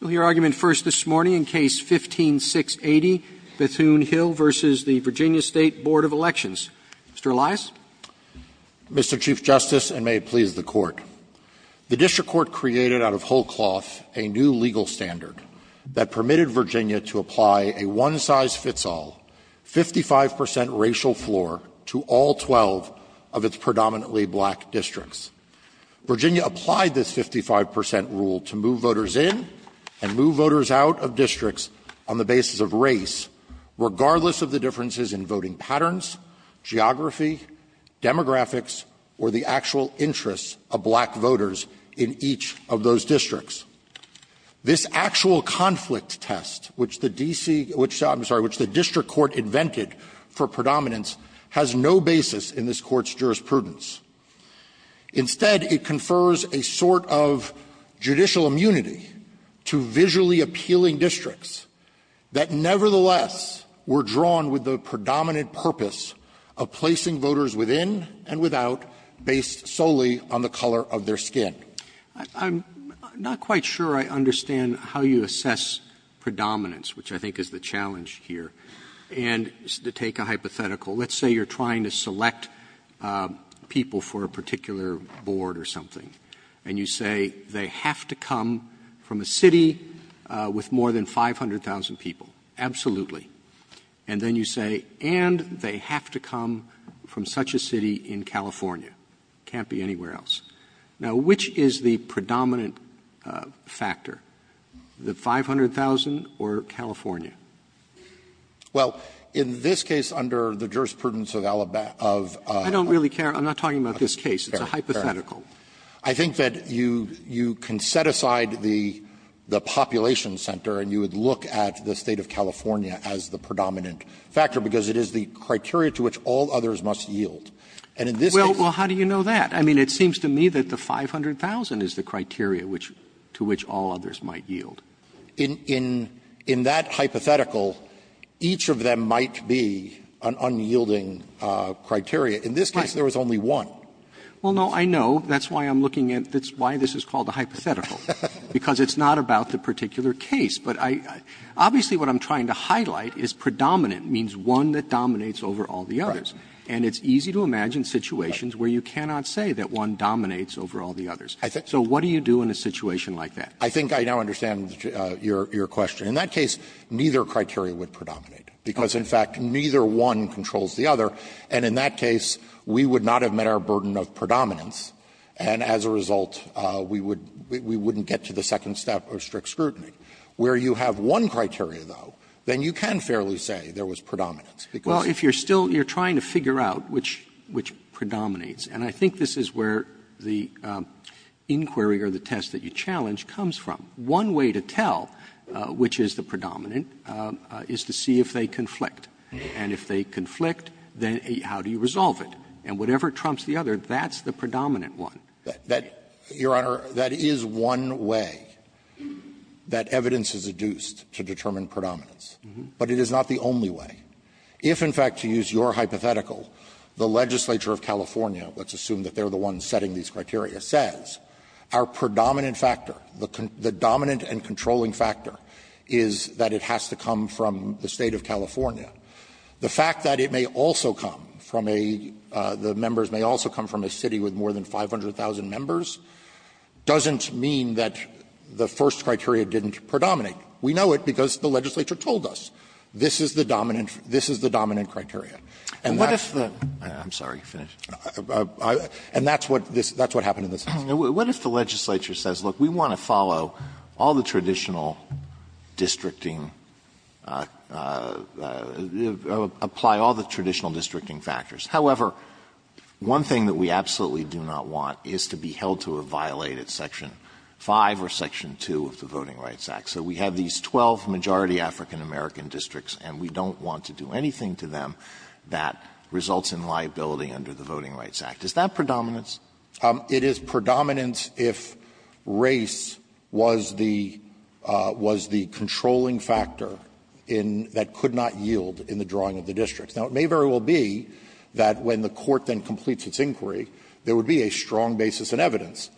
Mr. Elias? Mr. Chief Justice, and may it please the Court, the District Court created out of whole cloth a new legal standard that permitted Virginia to apply a one-size-fits-all, 55 percent racial floor to all 12 of its predominantly black districts. Virginia applied this 55 percent rule to move voters in and move voters out of districts on the basis of race, regardless of the differences in voting patterns, geography, demographics, or the actual interests of black voters in each of those districts. This actual conflict test, which the D.C. – I'm sorry, which the District Court invented for predominance, has no basis in this Court's jurisprudence. Instead, it confers a sort of judicial immunity to visually appealing districts that nevertheless were drawn with the predominant purpose of placing voters within and without based solely on the color of their skin. I'm not quite sure I understand how you assess predominance, which I think is the challenge here, and to take a hypothetical. Let's say you're trying to select people for a particular board or something, and you say they have to come from a city with more than 500,000 people, absolutely. And then you say, and they have to come from such a city in California. It can't be anywhere else. Now, which is the predominant factor, the 500,000 or California? Well, in this case, under the jurisprudence of Alabama of the State of California of California. I don't really care. I'm not talking about this case. It's a hypothetical. I think that you can set aside the population center, and you would look at the State of California as the predominant factor, because it is the criteria to which all others And in this case the predominant factor is the 500,000. Well, how do you know that? I mean, it seems to me that the 500,000 is the criteria which to which all others might yield. In that hypothetical, each of them might be an unyielding criteria. In this case, there was only one. Well, no, I know. That's why I'm looking at why this is called a hypothetical, because it's not about the particular case. But obviously what I'm trying to highlight is predominant means one that dominates over all the others. And it's easy to imagine situations where you cannot say that one dominates over all the others. So what do you do in a situation like that? I think I now understand your question. In that case, neither criteria would predominate, because in fact neither one controls the other. And in that case, we would not have met our burden of predominance, and as a result we would we wouldn't get to the second step of strict scrutiny. Where you have one criteria, though, then you can fairly say there was predominance, because Well, if you're still you're trying to figure out which which predominates, and I think this is where the inquiry or the test that you challenge comes from. One way to tell which is the predominant is to see if they conflict. And if they conflict, then how do you resolve it? And whatever trumps the other, that's the predominant one. That, Your Honor, that is one way that evidence is adduced to determine predominance. But it is not the only way. If, in fact, to use your hypothetical, the legislature of California, let's assume that they're the one setting these criteria, says our predominant factor, the dominant and controlling factor, is that it has to come from the State of California, the fact that it may also come from a the members may also come from a city with more than 500,000 members doesn't mean that the first criteria didn't predominate. We know it because the legislature told us this is the dominant and controlling factor, this is the dominant criteria. And that's what happened in this case. Alito, what if the legislature says, look, we want to follow all the traditional districting, apply all the traditional districting factors. However, one thing that we absolutely do not want is to be held to a violated section 5 or section 2 of the Voting Rights Act. So we have these 12 majority African-American districts, and we don't want to do anything to them that results in liability under the Voting Rights Act. Is that predominance? It is predominance if race was the controlling factor in that could not yield in the drawing of the districts. Now, it may very well be that when the Court then completes its inquiry, there would be a strong basis in evidence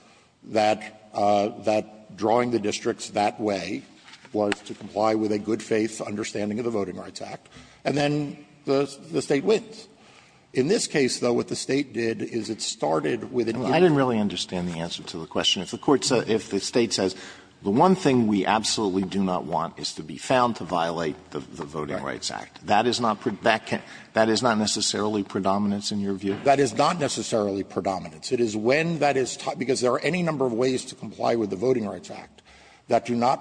that drawing the districts that way was to comply with a good-faith understanding of the Voting Rights Act, and then the State wins. In this case, though, what the State did is it started with an evidence. Alito, I didn't really understand the answer to the question. If the Court says, if the State says, the one thing we absolutely do not want is to be found to violate the Voting Rights Act, that is not predominance? That is not necessarily predominance in your view? That is not necessarily predominance. It is when that is taught, because there are any number of ways to comply with the Voting Rights Act that allow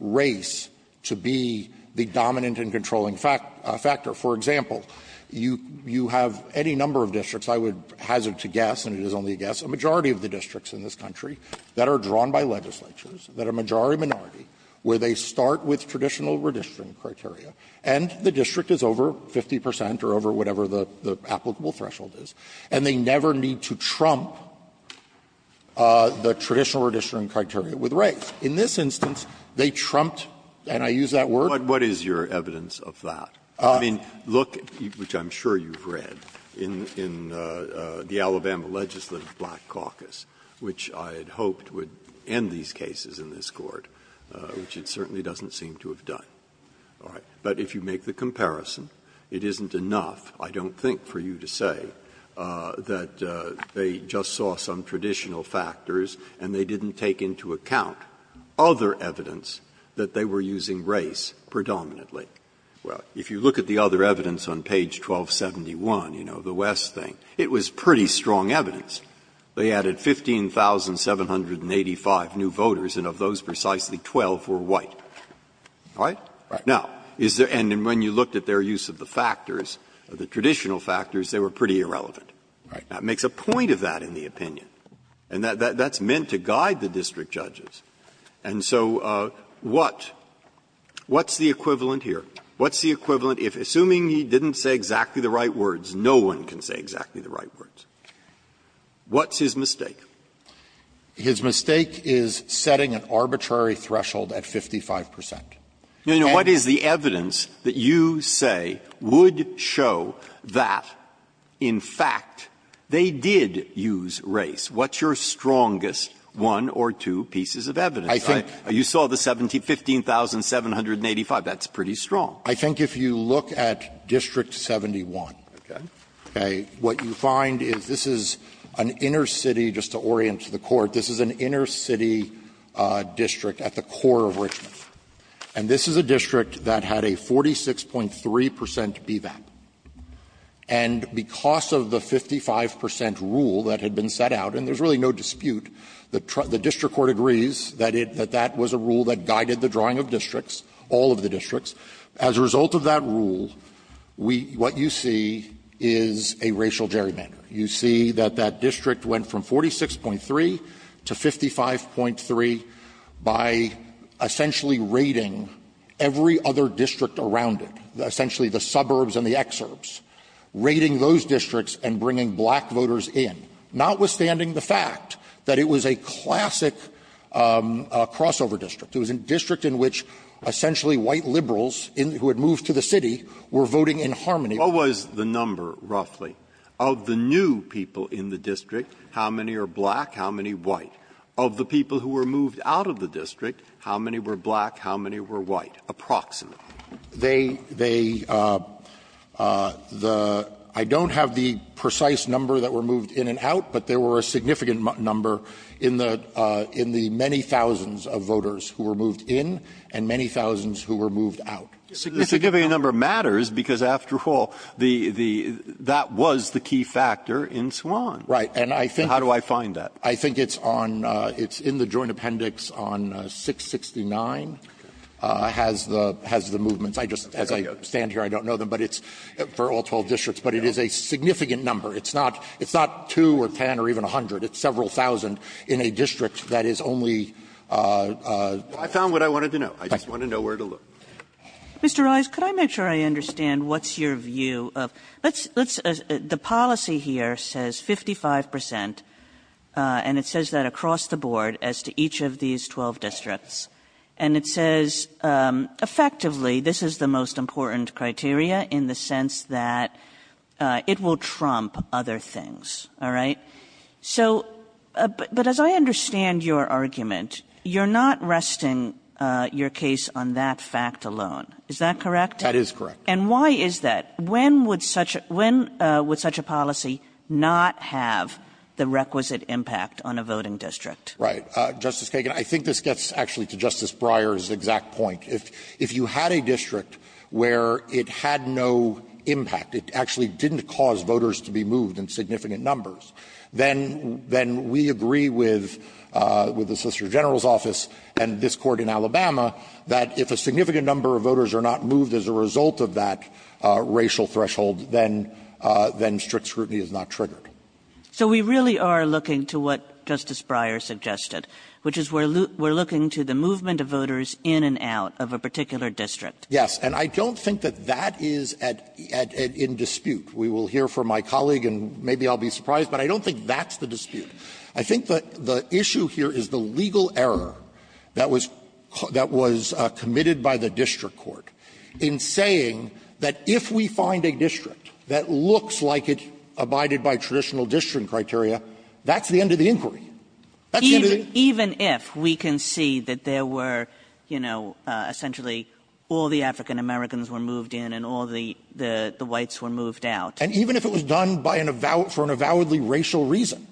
this to be the dominant and controlling factor. For example, you have any number of districts, I would hazard to guess, and it is only a guess, a majority of the districts in this country that are drawn by legislatures, that are majority-minority, where they start with traditional redistricting criteria, and the district is over 50 percent or over whatever the applicable threshold is, and they never need to trump the traditional redistricting criteria with race. In this instance, they trumped, and I use that word. Breyer, what is your evidence of that? I mean, look, which I'm sure you've read, in the Alabama Legislative Black Caucus, which I had hoped would end these cases in this Court, which it certainly doesn't seem to have done. All right. But if you make the comparison, it isn't enough, I don't think, for you to say, that they just saw some traditional factors and they didn't take into account other evidence that they were using race predominantly. Well, if you look at the other evidence on page 1271, you know, the West thing, it was pretty strong evidence. They added 15,785 new voters, and of those, precisely 12 were white. All right? Now, is there any room when you looked at their use of the factors, the traditional factors, they were pretty irrelevant. Right. Now, it makes a point of that in the opinion, and that's meant to guide the district judges. And so what's the equivalent here? What's the equivalent if, assuming he didn't say exactly the right words, no one can say exactly the right words? What's his mistake? His mistake is setting an arbitrary threshold at 55 percent. Now, what is the evidence that you say would show that, in fact, they did use race? What's your strongest one or two pieces of evidence? You saw the 15,785. That's pretty strong. I think if you look at District 71, okay, what you find is this is an inner city district at the core of Richmond. And this is a district that had a 46.3 percent BVAP. And because of the 55 percent rule that had been set out, and there's really no dispute, the district court agrees that it that that was a rule that guided the drawing of districts, all of the districts. As a result of that rule, we what you see is a racial gerrymander. You see that that district went from 46.3 to 55.3 by essentially raiding every other district around it, essentially the suburbs and the exurbs, raiding those districts and bringing black voters in, notwithstanding the fact that it was a classic crossover district. It was a district in which essentially white liberals who had moved to the city were voting in harmony. Breyer, what was the number, roughly, of the new people in the district, how many are black, how many white? Of the people who were moved out of the district, how many were black, how many were white, approximately? They they the I don't have the precise number that were moved in and out, but there were a significant number in the in the many thousands of voters who were moved in and many thousands who were moved out. The significant number matters because, after all, the the that was the key factor in Swann. Right. And I think. How do I find that? I think it's on it's in the Joint Appendix on 669 has the has the movements. I just as I stand here, I don't know them, but it's for all 12 districts. But it is a significant number. It's not it's not two or ten or even a hundred. It's several thousand in a district that is only I found what I wanted to know. I just want to know where to look. Mr. Rice, could I make sure I understand what's your view of let's let's the policy here says 55 percent and it says that across the board as to each of these 12 districts and it says effectively, this is the most important criteria in the sense that it will trump other things. All right. So but as I understand your argument, you're not resting your case on that fact alone. Is that correct? That is correct. And why is that? When would such when would such a policy not have the requisite impact on a voting district? Right. Justice Kagan, I think this gets actually to Justice Breyer's exact point. If if you had a district where it had no impact, it actually didn't cause voters to be moved in significant numbers. Then then we agree with with the Solicitor General's office and this court in Alabama that if a significant number of voters are not moved as a result of that racial threshold, then then strict scrutiny is not triggered. So we really are looking to what Justice Breyer suggested, which is we're we're looking to the movement of voters in and out of a particular district. Yes. And I don't think that that is at at in dispute. We will hear from my colleague and maybe I'll be surprised, but I don't think that's the dispute. I think that the issue here is the legal error that was that was committed by the district court in saying that if we find a district that looks like it abided by traditional district criteria, that's the end of the inquiry. That's the end of the inquiry. Even if we can see that there were, you know, essentially all the African-Americans were moved in and all the the the whites were moved out. And even if it was done by an avowed for an avowedly racial reason,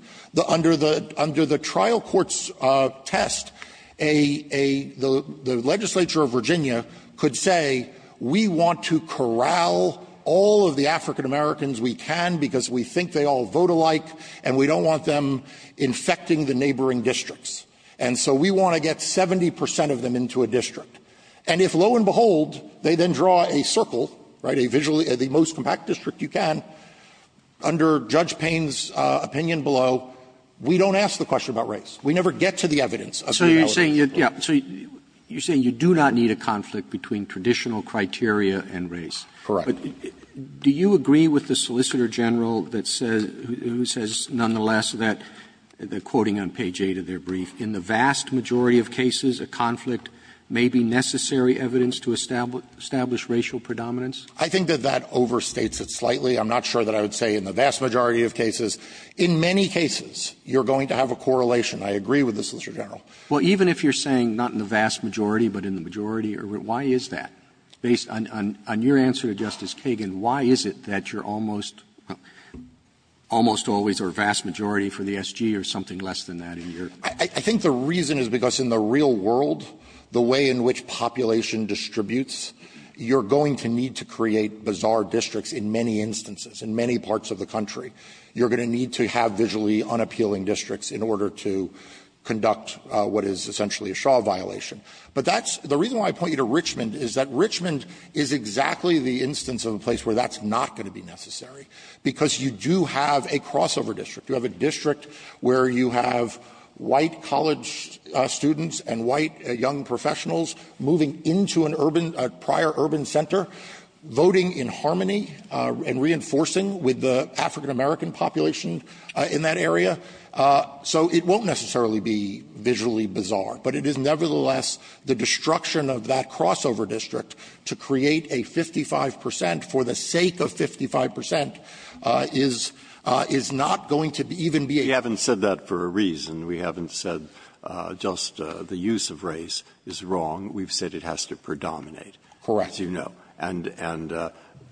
under the under the trial courts test, a a the the legislature of Virginia could say we want to corral all of the African-Americans we can because we think they all vote alike and we don't want them infecting the neighboring districts. And so we want to get 70 percent of them into a district. And if lo and behold, they then draw a circle, right, a visually the most compact district you can, under Judge Payne's opinion below, we don't ask the question about race. We never get to the evidence of the avowedly racial. Robertson, So you're saying, yeah, so you're saying you do not need a conflict between traditional criteria and race. Gershengorn Correct. Robertson, But do you agree with the Solicitor General that says, who says nonetheless that, quoting on page 8 of their brief, In the vast majority of cases, a conflict may be necessary evidence to establish racial predominance? Gershengorn I think that that overstates it slightly. I'm not sure that I would say in the vast majority of cases. In many cases, you're going to have a correlation. I agree with the Solicitor General. Robertson, Well, even if you're saying not in the vast majority, but in the majority, why is that? Based on your answer to Justice Kagan, why is it that you're almost, almost always a vast majority for the SG or something less than that in your Gershengorn I think the reason is because in the real world, the way in which population distributes, you're going to need to create bizarre districts in many instances, in many parts of the country. You're going to need to have visually unappealing districts in order to conduct what is essentially a Shaw violation. But that's the reason why I point you to Richmond is that Richmond is exactly the instance of a place where that's not going to be necessary, because you do have a crossover district. You have a district where you have white college students and white young professionals moving into an urban, a prior urban center, voting in harmony and reinforcing with the African-American population in that area. So it won't necessarily be visually bizarre, but it is nevertheless the destruction of that crossover district to create a 55 percent for the sake of 55 percent is, is not going to even be a. Breyer. Breyer, you guys have said this and, I know all of you have, and we haven't said just the use of race is wrong, we've said it has to predominate. Croggan. So you know. And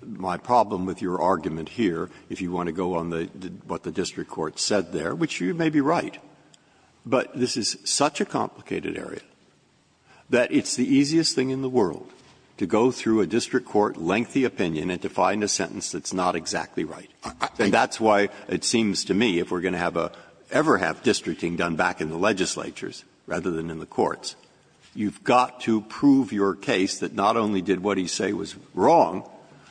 my problem with your argument here, if you want to go on what the district court said there, which you may be right, but this is such a complicated area that it's the easiest thing in the world to go through a district court, lengthy opinion and to find a sentence that's not exactly right. And that's why it seems to me, if we're going to have a ever have districting done back in the legislatures rather than in the courts, you've got to prove your case that not only did what he say was wrong,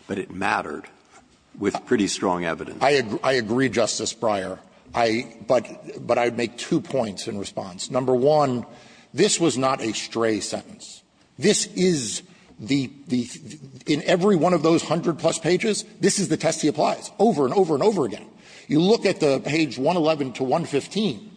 but it mattered with pretty strong evidence. I agree, Justice Breyer, but I would make two points in response. Number one, this was not a stray sentence. This is the the the in every one of those hundred plus pages, this is the test he applies over and over and over again. You look at the page 111 to 115,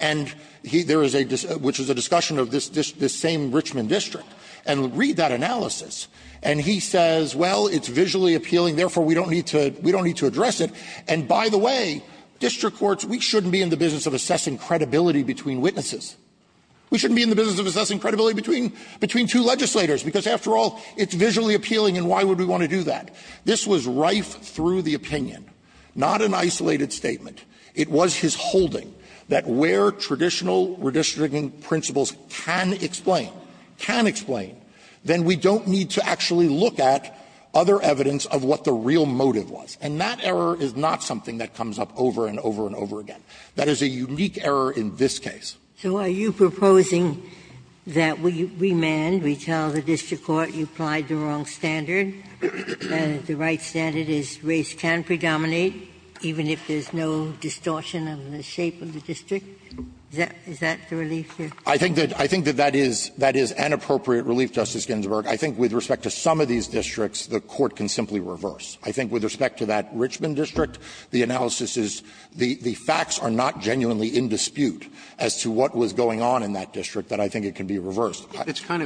and there is a which is a discussion of this this this same Richmond district, and read that analysis, and he says, well, it's visually appealing, therefore we don't need to we don't need to address it, and by the way, district courts, we shouldn't be in the business of assessing credibility between witnesses. We shouldn't be in the business of assessing credibility between between two legislators, because after all, it's visually appealing, and why would we want to do that? This was rife through the opinion, not an isolated statement. It was his holding that where traditional redistricting principles can explain, can explain, then we don't need to actually look at other evidence of what the real motive was. And that error is not something that comes up over and over and over again. That is a unique error in this case. Ginsburg. So are you proposing that we remand, we tell the district court you applied the wrong standard, the right standard is race can predominate even if there is no distortion of the shape of the district? Is that the relief here? I think that that is an appropriate relief, Justice Ginsburg. I think with respect to some of these districts, the Court can simply reverse. I think with respect to that Richmond district, the analysis is the facts are not genuinely in dispute as to what was going on in that district that I think it can be reversed. It's kind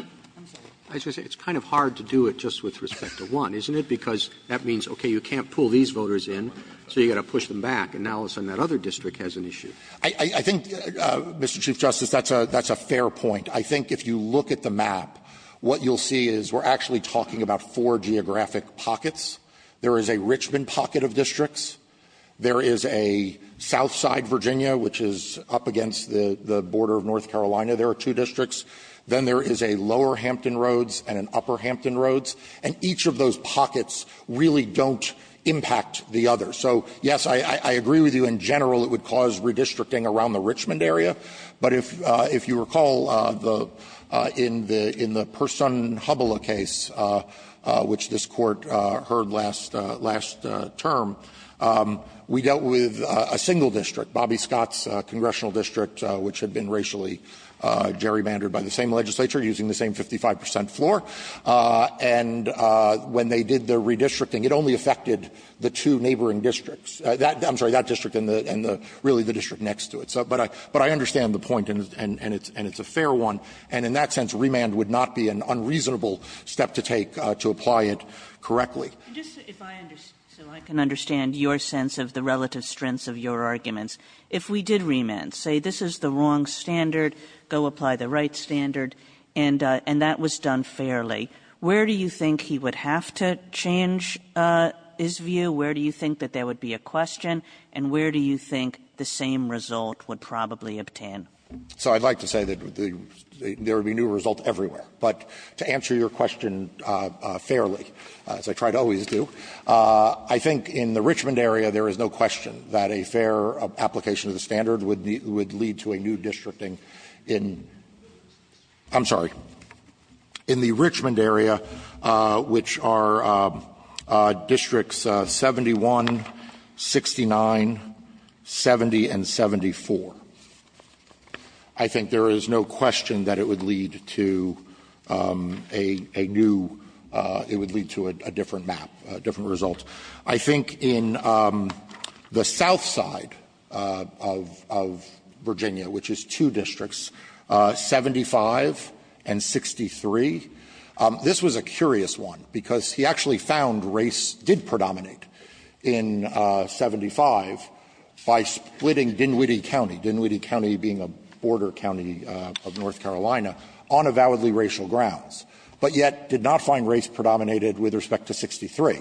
of hard to do it just with respect to one, isn't it, because that means, okay, you can't pull these voters in, so you've got to push them back. And now it's in that other district has an issue. I think, Mr. Chief Justice, that's a fair point. I think if you look at the map, what you'll see is we're actually talking about four geographic pockets. There is a Richmond pocket of districts. There is a south side Virginia, which is up against the border of North Carolina. There are two districts. Then there is a lower Hampton Roads and an upper Hampton Roads. And each of those pockets really don't impact the other. So, yes, I agree with you in general it would cause redistricting around the Richmond area. But if you recall, in the Personne-Hubbella case, which this Court heard last term, we dealt with a single district, Bobby Scott's congressional district, which had been racially gerrymandered by the same legislature using the same 55 percent floor. And when they did the redistricting, it only affected the two neighboring districts, I'm sorry, that district and really the district next to it. But I understand the point, and it's a fair one. And in that sense, remand would not be an unreasonable step to take to apply it correctly. Kagan So I can understand your sense of the relative strengths of your arguments. If we did remand, say this is the wrong standard, go apply the right standard, and that was done fairly, where do you think he would have to change his view? Where do you think that there would be a question? And where do you think the same result would probably obtain? So I'd like to say that there would be a new result everywhere. But to answer your question fairly, as I try to always do, I think in the Richmond area there is no question that a fair application of the standard would lead to a new districting in the Richmond area, which are districts 71, 69, and 70, which are districts 71, 69, 70, and 74. I think there is no question that it would lead to a new – it would lead to a different map, a different result. I think in the south side of Virginia, which is two districts, 75 and 63, this was a curious one, because he actually found race did predominate in 75 by splitting Dinwiddie County, Dinwiddie County being a border county of North Carolina, on avowedly racial grounds, but yet did not find race predominated with respect to 63.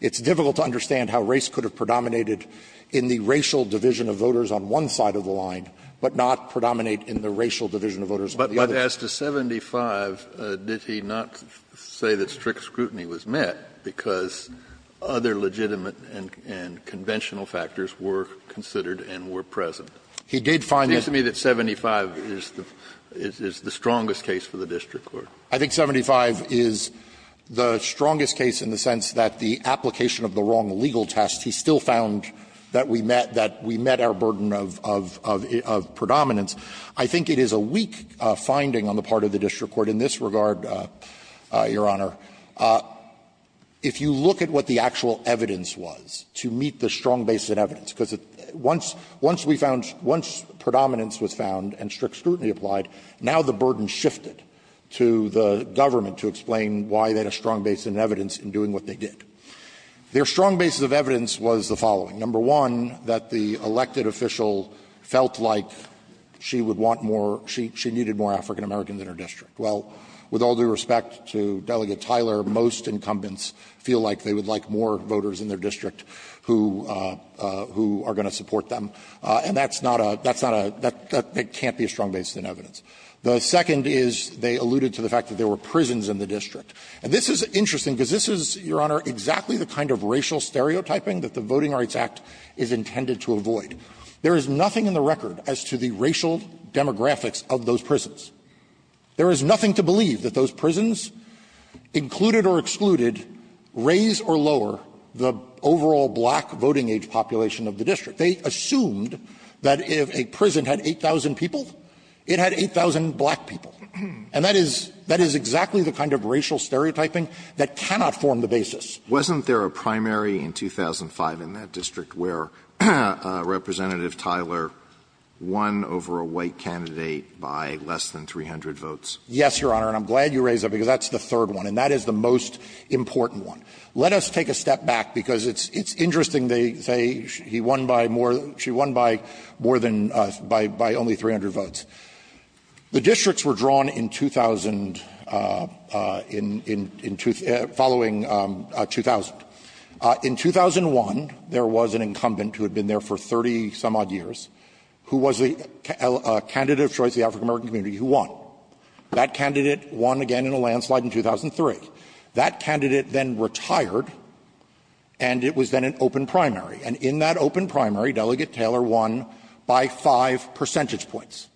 It's difficult to understand how race could have predominated in the racial division of voters on one side of the line, but not predominate in the racial division of voters on the other. But as to 75, did he not say that strict scrutiny was met because other legitimate and conventional factors were considered and were present? He did find that. It seems to me that 75 is the strongest case for the district court. I think 75 is the strongest case in the sense that the application of the wrong legal test, he still found that we met our burden of predominance. I think it is a weak finding on the part of the district court in this regard, Your Honor, if you look at what the actual evidence was to meet the strong basis of evidence, because once we found — once predominance was found and strict scrutiny applied, now the burden shifted to the government to explain why they had a strong basis of evidence in doing what they did. Their strong basis of evidence was the following. Number one, that the elected official felt like she would want more — she needed more African Americans in her district. Well, with all due respect to Delegate Tyler, most incumbents feel like they would like more voters in their district who are going to support them, and that's not a — that's not a — that can't be a strong basis of evidence. The second is they alluded to the fact that there were prisons in the district. And this is interesting, because this is, Your Honor, exactly the kind of racial stereotyping that the Voting Rights Act is intended to avoid. There is nothing in the record as to the racial demographics of those prisons. There is nothing to believe that those prisons, included or excluded, raise or lower the overall black voting-age population of the district. They assumed that if a prison had 8,000 people, it had 8,000 black people. And that is — that is exactly the kind of racial stereotyping that cannot form the basis. Alitoso, wasn't there a primary in 2005 in that district where Representative Tyler won over a white candidate by less than 300 votes? Yes, Your Honor, and I'm glad you raised that, because that's the third one, and that is the most important one. Let us take a step back, because it's interesting they say he won by more — she won by more than — by only 300 votes. The districts were drawn in 2000 — in — in — following 2000. In 2001, there was an incumbent who had been there for 30-some-odd years who was the candidate of choice of the African-American community who won. That candidate won again in a landslide in 2003. That candidate then retired, and it was then an open primary. And in that open primary, Delegate Taylor won by 5 percentage points.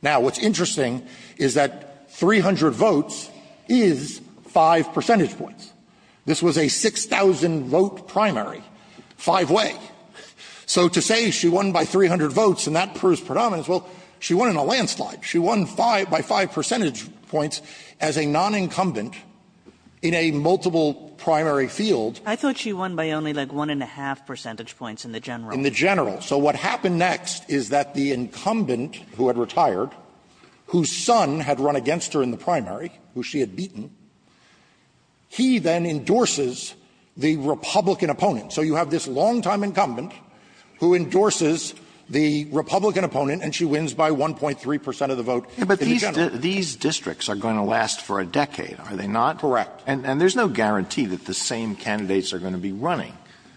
Now, what's interesting is that 300 votes is 5 percentage points. This was a 6,000-vote primary, five-way. So to say she won by 300 votes and that proves predominance, well, she won in a landslide. She won by 5 percentage points as a non-incumbent in a multiple primary field. I thought she won by only like 1-1⁄2 percentage points in the general. In the general. So what happened next is that the incumbent who had retired, whose son had run against her in the primary, who she had beaten, he then endorses the Republican opponent. So you have this longtime incumbent who endorses the Republican opponent, and she wins by 1.3 percent of the vote in the general. These districts are going to last for a decade, are they not? Correct. And there's no guarantee that the same candidates are going to be running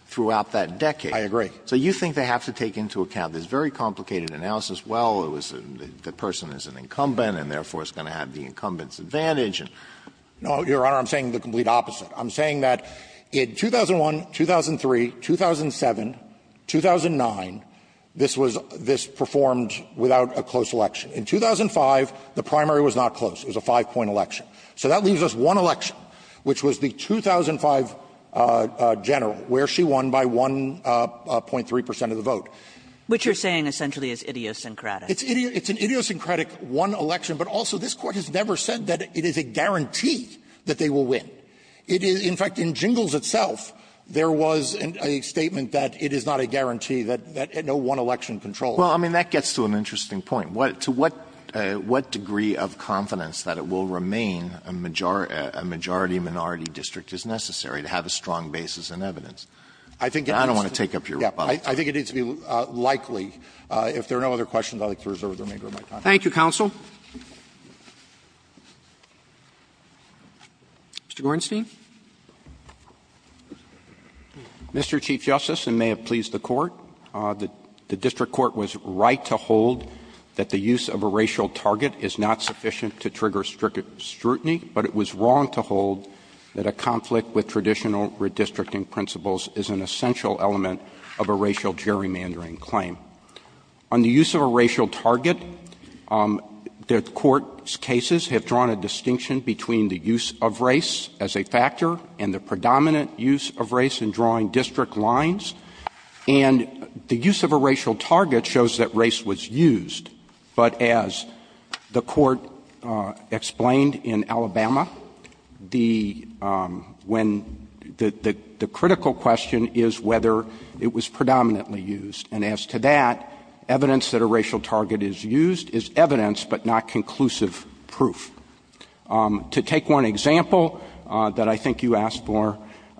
throughout that decade. I agree. So you think they have to take into account this very complicated analysis. Well, it was the person is an incumbent, and therefore is going to have the incumbent's advantage. No, Your Honor, I'm saying the complete opposite. I'm saying that in 2001, 2003, 2007, 2009, this was this performed without a close election. In 2005, the primary was not close. It was a 5-point election. So that leaves us one election, which was the 2005 general, where she won by 1 percent of the vote. Which you're saying essentially is idiosyncratic. It's idiosyncratic one election. But also, this Court has never said that it is a guarantee that they will win. It is, in fact, in Jingles itself, there was a statement that it is not a guarantee that no one election controls. Well, I mean, that gets to an interesting point. To what degree of confidence that it will remain a majority-minority district is necessary to have a strong basis in evidence? I think it has to be. I think it needs to be likely. If there are no other questions, I would like to reserve the remainder of my time. Roberts. Thank you, counsel. Mr. Gornstein. Mr. Chief Justice, and may it please the Court, the district court was right to hold that the use of a racial target is not sufficient to trigger strict scrutiny, but it was wrong to hold that a conflict with traditional redistricting principles is an essential element of a racial gerrymandering claim. On the use of a racial target, the Court's cases have drawn a distinction between the use of race as a factor and the predominant use of race in drawing district lines. And the use of a racial target shows that race was used, but as the Court explained in Alabama, the critical question is whether it was predominantly used. And as to that, evidence that a racial target is used is evidence, but not conclusive proof. To take one example that I think you asked for,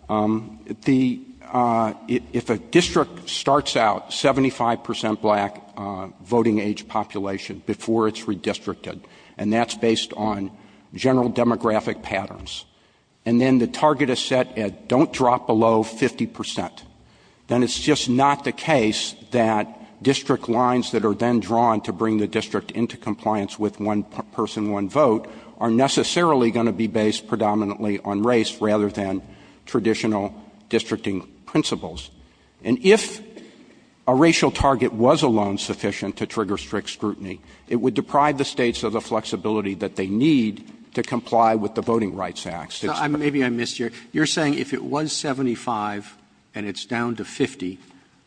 if a district starts out 75 percent black voting age population before it's redistricted, and that's based on the general demographic patterns, and then the target is set at don't drop below 50 percent, then it's just not the case that district lines that are then drawn to bring the district into compliance with one person, one vote, are necessarily going to be based predominantly on race rather than traditional districting principles. And if a racial target was alone sufficient to trigger strict scrutiny, it would deprive the States of the flexibility that they need to comply with the Voting Rights Act. Roberts So maybe I missed your question. You're saying if it was 75 and it's down to 50,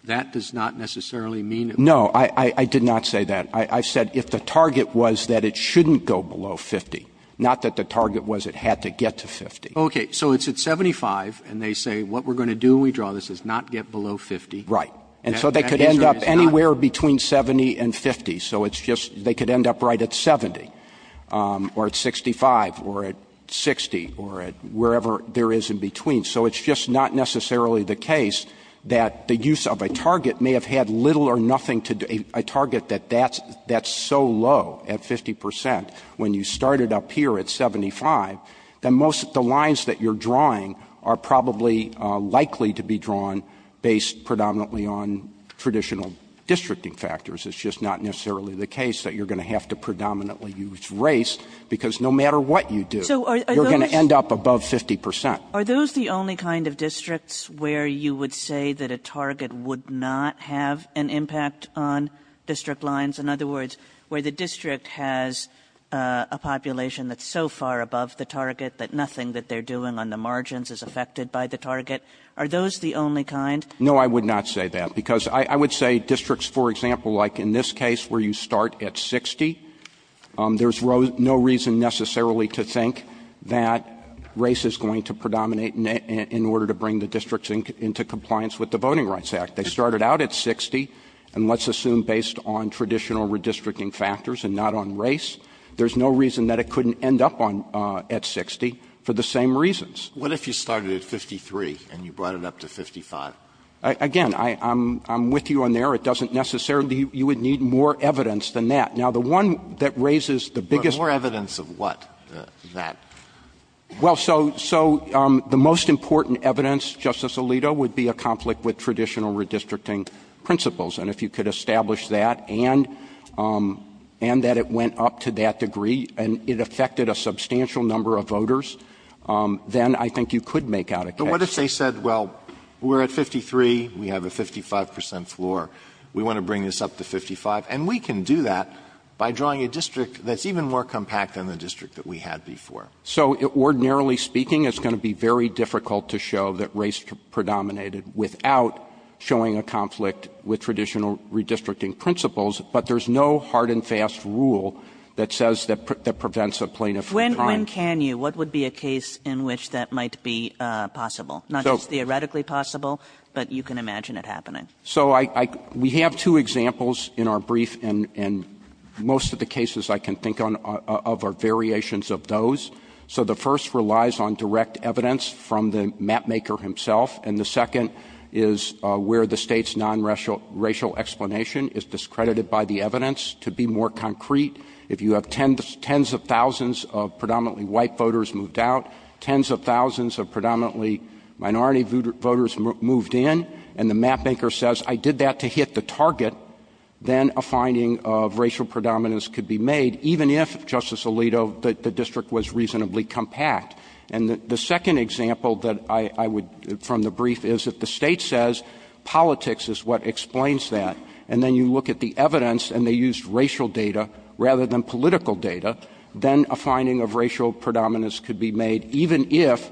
that does not necessarily mean it would be? No, I did not say that. I said if the target was that it shouldn't go below 50, not that the target was it had to get to 50. Okay. So it's at 75, and they say what we're going to do when we draw this is not get below 50. Right. And so they could end up anywhere between 70 and 50. So it's just they could end up right at 70, or at 65, or at 60, or at wherever there is in between. So it's just not necessarily the case that the use of a target may have had little or nothing to do to a target that that's so low at 50 percent when you started up here at 75, then most of the lines that you're drawing are probably likely to be drawn based predominantly on traditional districting factors. It's just not necessarily the case that you're going to have to predominantly use race, because no matter what you do, you're going to end up above 50 percent. Are those the only kind of districts where you would say that a target would not have an impact on district lines? In other words, where the district has a population that's so far above the target that nothing that they're doing on the margins is affected by the target, are those the only kind? No, I would not say that. Because I would say districts, for example, like in this case where you start at 60, there's no reason necessarily to think that race is going to predominate in order to bring the districts into compliance with the Voting Rights Act. They started out at 60, and let's assume based on traditional redistricting factors and not on race, there's no reason that it couldn't end up on at 60 for the same reasons. Alito, what if you started at 53 and you brought it up to 55? Again, I'm with you on there. It doesn't necessarily you would need more evidence than that. Now, the one that raises the biggest question. More evidence of what? That. Well, so the most important evidence, Justice Alito, would be a conflict with traditional redistricting principles. And if you could establish that and that it went up to that degree and it affected a substantial number of voters, then I think you could make out a case. Alito, what if they said, well, we're at 53, we have a 55 percent floor, we want to bring this up to 55, and we can do that by drawing a district that's even more compact than the district that we had before? So ordinarily speaking, it's going to be very difficult to show that race predominated without showing a conflict with traditional redistricting principles, but there's no hard and fast rule that says that prevents a plaintiff from trying. Kagan. When can you? What would be a case in which that might be possible? Not just theoretically possible, but you can imagine it happening. So I we have two examples in our brief, and most of the cases I can think of are variations of those. So the first relies on direct evidence from the mapmaker himself, and the second is where the State's nonracial explanation is discredited by the evidence. So if you have 10s of thousands of predominantly white voters moved out, 10s of thousands of predominantly minority voters moved in, and the mapmaker says, I did that to hit the target, then a finding of racial predominance could be made, even if, Justice Alito, the district was reasonably compact. And the second example that I would, from the brief, is that the State says politics is what explains that. And then you look at the evidence, and they used racial data rather than political data, then a finding of racial predominance could be made, even if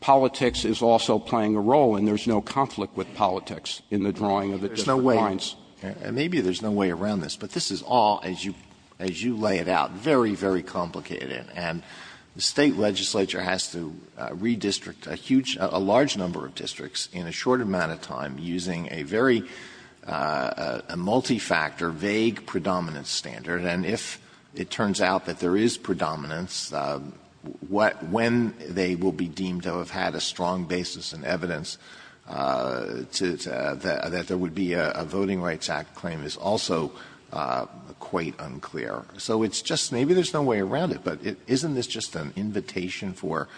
politics is also playing a role, and there's no conflict with politics in the drawing of the district lines. Maybe there's no way around this, but this is all, as you lay it out, very, very complicated. And the State legislature has to redistrict a huge, a large number of districts in a short amount of time using a very, a multi-factor, vague predominance standard. And if it turns out that there is predominance, when they will be deemed to have had a strong basis in evidence that there would be a Voting Rights Act claim is also quite unclear. So it's just, maybe there's no way around it, but isn't this just an invitation for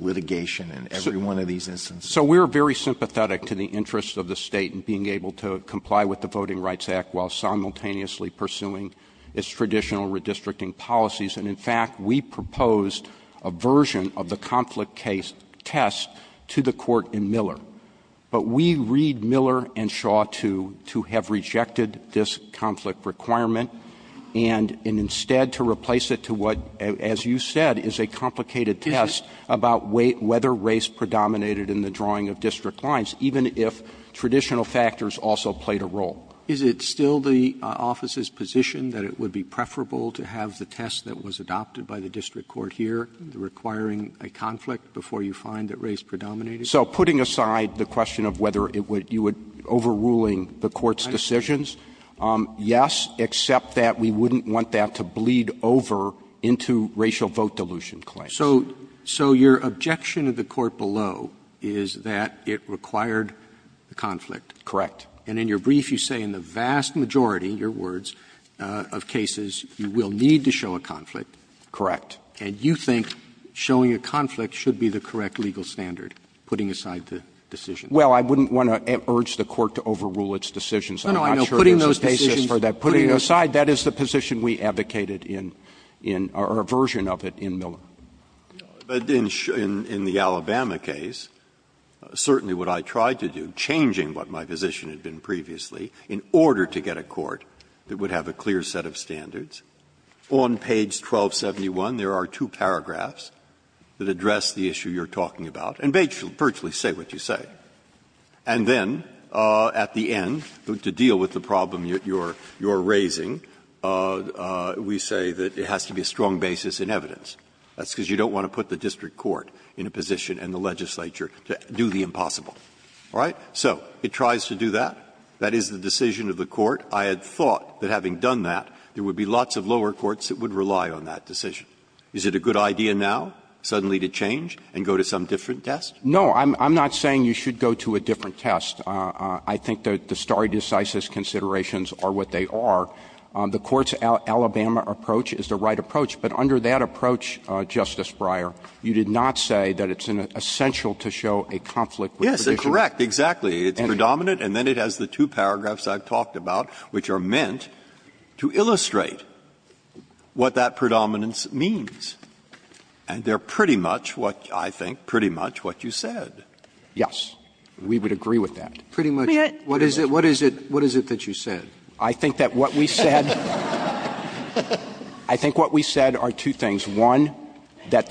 litigation in every one of these instances? So we're very sympathetic to the interests of the State in being able to comply with the Voting Rights Act while simultaneously pursuing its traditional redistricting policies. And in fact, we proposed a version of the conflict case test to the court in Miller. But we read Miller and Shaw to have rejected this conflict requirement, and instead to replace it to what, as you said, is a complicated test about whether race predominated in the drawing of district lines, even if traditional factors also played a role. Roberts Is it still the office's position that it would be preferable to have the test that was adopted by the district court here requiring a conflict before you find that race predominated? So putting aside the question of whether it would, you would, overruling the court's decisions, yes, except that we wouldn't want that to bleed over into racial vote dilution claims. Roberts So your objection to the court below is that it required the conflict. Miller Correct. Roberts And in your brief, you say in the vast majority, in your words, of cases you will need to show a conflict. Miller Correct. Roberts And you think showing a conflict should be the correct legal standard, putting aside the decision. Miller Well, I wouldn't want to urge the court to overrule its decisions. I'm not sure there's a basis for that. Roberts No, no, putting those decisions aside, that is the position we advocated in or a version of it in Miller. But in the Alabama case, certainly what I tried to do, changing what my position had been previously in order to get a court that would have a clear set of standards, on page 1271 there are two paragraphs that address the issue you're talking about and virtually say what you say. And then at the end, to deal with the problem you're raising, we say that it has to be a strong basis in evidence. That's because you don't want to put the district court in a position and the legislature to do the impossible. All right? So it tries to do that. That is the decision of the court. I had thought that having done that, there would be lots of lower courts that would rely on that decision. Is it a good idea now suddenly to change and go to some different test? Miller No, I'm not saying you should go to a different test. I think the stare decisis considerations are what they are. The court's Alabama approach is the right approach. But under that approach, Justice Breyer, you did not say that it's essential to show a conflict with the position. Breyer Yes, correct, exactly. It's predominant, and then it has the two paragraphs I've talked about which are meant to illustrate what that predominance means. And they're pretty much what, I think, pretty much what you said. Miller Yes. We would agree with that. Sotomayor What is it that you said? Miller I think that what we said are two things. One, that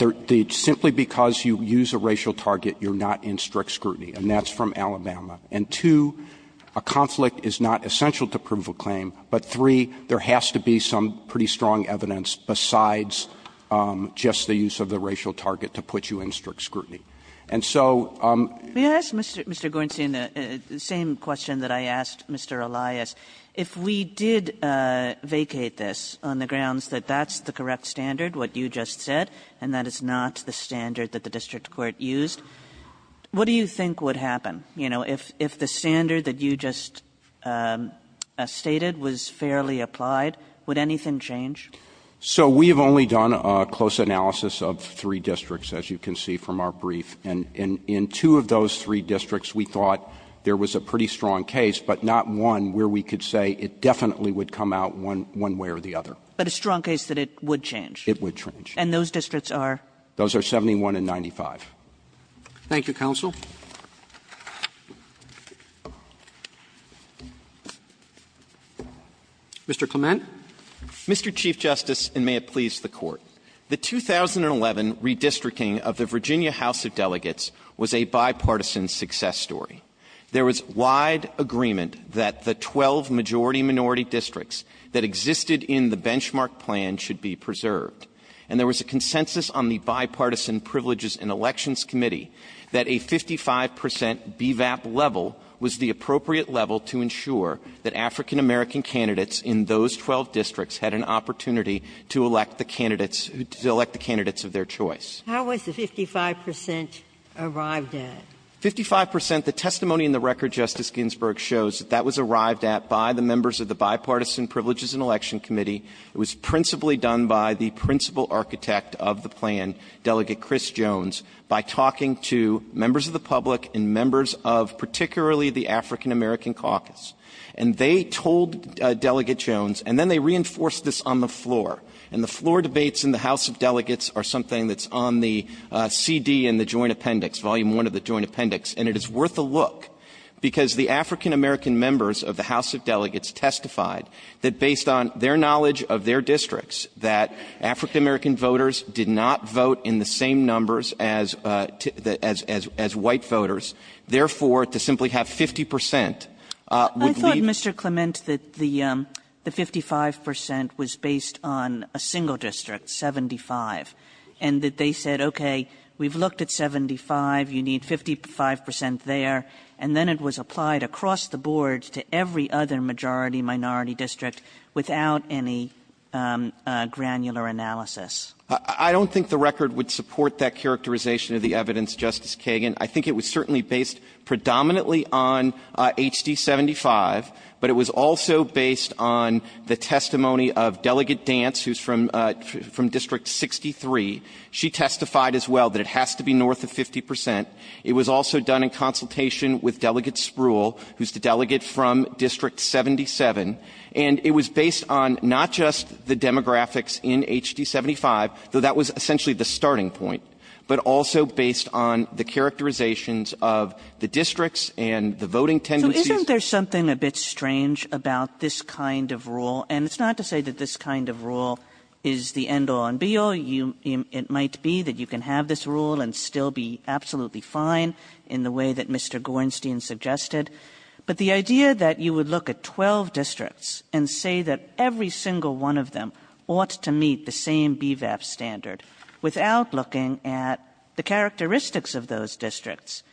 simply because you use a racial target, you're not in strict scrutiny, and that's from Alabama. And two, a conflict is not essential to proof of claim. But three, there has to be some pretty strong evidence besides just the use of the racial target to put you in strict scrutiny. Kagan If we did vacate this on the grounds that that's the correct standard, what you just said, and that is not the standard that the district court used, what do you think would happen? You know, if the standard that you just stated was fairly applied, would anything change? Miller So we have only done a close analysis of three districts, as you can see from our brief. And in two of those three districts, we thought there was a pretty strong case, but not one where we could say it definitely would come out one way or the other. Kagan But a strong case that it would change? Miller It would change. Kagan And those districts are? Miller Those are 71 and 95. Roberts Thank you, counsel. Mr. Clement. Clement Mr. Chief Justice, and may it please the Court, the 2011 redistricting of the Virginia House of Delegates was a bipartisan success story. There was wide agreement that the 12 majority-minority districts that existed in the benchmark plan should be preserved. And there was a consensus on the Bipartisan Privileges and Elections Committee that a 55 percent BVAP level was the appropriate level to ensure that African-American candidates in those 12 districts had an opportunity to elect the candidates of their choice. Ginsburg How was the 55 percent arrived at? Clement 55 percent, the testimony in the record, Justice Ginsburg, shows that that was arrived at by the members of the Bipartisan Privileges and Elections Committee. It was principally done by the principal architect of the plan, Delegate Chris Jones, by talking to members of the public and members of particularly the African-American Caucus. And they told Delegate Jones, and then they reinforced this on the floor. And the floor debates in the House of Delegates are something that's on the CD in the Joint Appendix, and it is worth a look, because the African-American members of the House of Delegates testified that based on their knowledge of their districts that African-American voters did not vote in the same numbers as white voters, therefore, to simply have 50 percent would lead to the BVAP level. Kagan I thought, Mr. Clement, that the 55 percent was based on a single district, 75, and that they said, okay, we've looked at 75, you need 55 percent there, and then it was applied across the board to every other majority-minority district without any granular analysis. Clement I don't think the record would support that characterization of the evidence, Justice Kagan. I think it was certainly based predominantly on HD-75, but it was also based on the She testified as well that it has to be north of 50 percent. It was also done in consultation with Delegate Spruill, who's the delegate from District 77, and it was based on not just the demographics in HD-75, though that was essentially the starting point, but also based on the characterizations of the districts and the voting tendencies. Kagan So isn't there something a bit strange about this kind of rule? And it's not to say that this kind of rule is the end-all and be-all. It might be that you can have this rule and still be absolutely fine in the way that Mr. Gorenstein suggested, but the idea that you would look at 12 districts and say that every single one of them ought to meet the same BVAP standard without looking at the characteristics of those districts,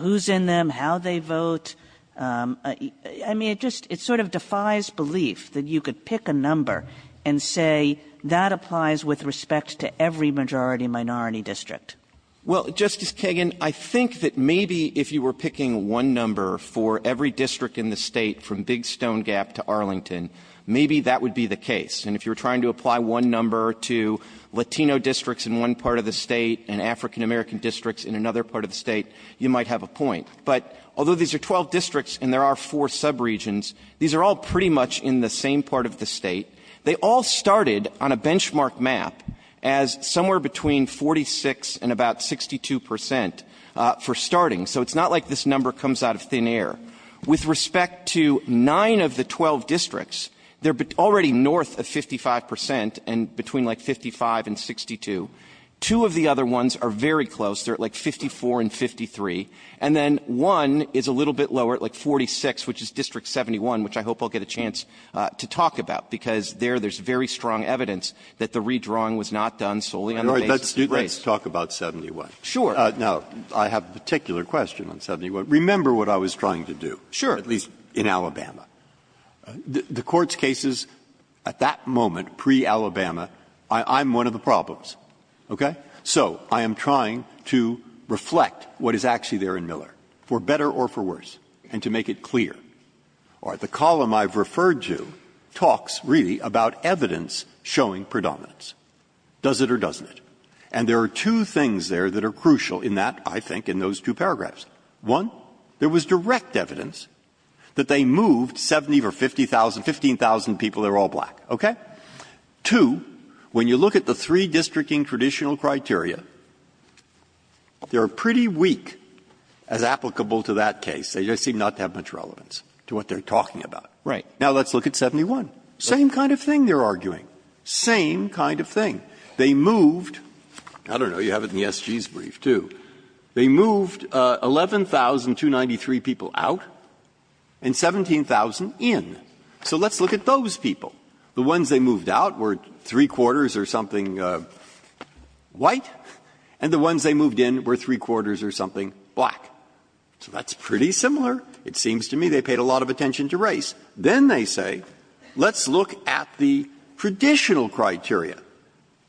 who's in them, how they vote, I mean, it sort of defies belief that you could pick a number and say that applies with respect to every majority-minority district. Well, Justice Kagan, I think that maybe if you were picking one number for every district in the State from Big Stone Gap to Arlington, maybe that would be the case. And if you were trying to apply one number to Latino districts in one part of the State and African-American districts in another part of the State, you might have a point. But although these are 12 districts and there are four subregions, these are all pretty much in the same part of the State. They all started on a benchmark map as somewhere between 46 and about 62 percent for starting, so it's not like this number comes out of thin air. With respect to 9 of the 12 districts, they're already north of 55 percent and between like 55 and 62. Two of the other ones are very close. They're at like 54 and 53. And then one is a little bit lower, at like 46, which is District 71, which I hope I'll get a chance to talk about, because there there's very strong evidence that the redrawing was not done solely on the basis of race. Breyer, let's talk about 71. Now, I have a particular question on 71. Remember what I was trying to do, at least in Alabama. The Court's cases at that moment, pre-Alabama, I'm one of the problems, okay? So I am trying to reflect what is actually there in Miller, for better or for worse, and to make it clear. The column I've referred to talks really about evidence showing predominance, does it or doesn't it. And there are two things there that are crucial in that, I think, in those two paragraphs. One, there was direct evidence that they moved 70,000 or 50,000, 15,000 people, they were all black, okay? Two, when you look at the three districting traditional criteria, they are pretty weak as applicable to that case. They just seem not to have much relevance to what they are talking about. Now, let's look at 71. Same kind of thing they are arguing. Same kind of thing. They moved, I don't know, you have it in the SG's brief, too. They moved 11,293 people out and 17,000 in. So let's look at those people. The ones they moved out were three-quarters or something white, and the ones they moved in were three-quarters or something black. So that's pretty similar. It seems to me they paid a lot of attention to race. Then they say, let's look at the traditional criteria.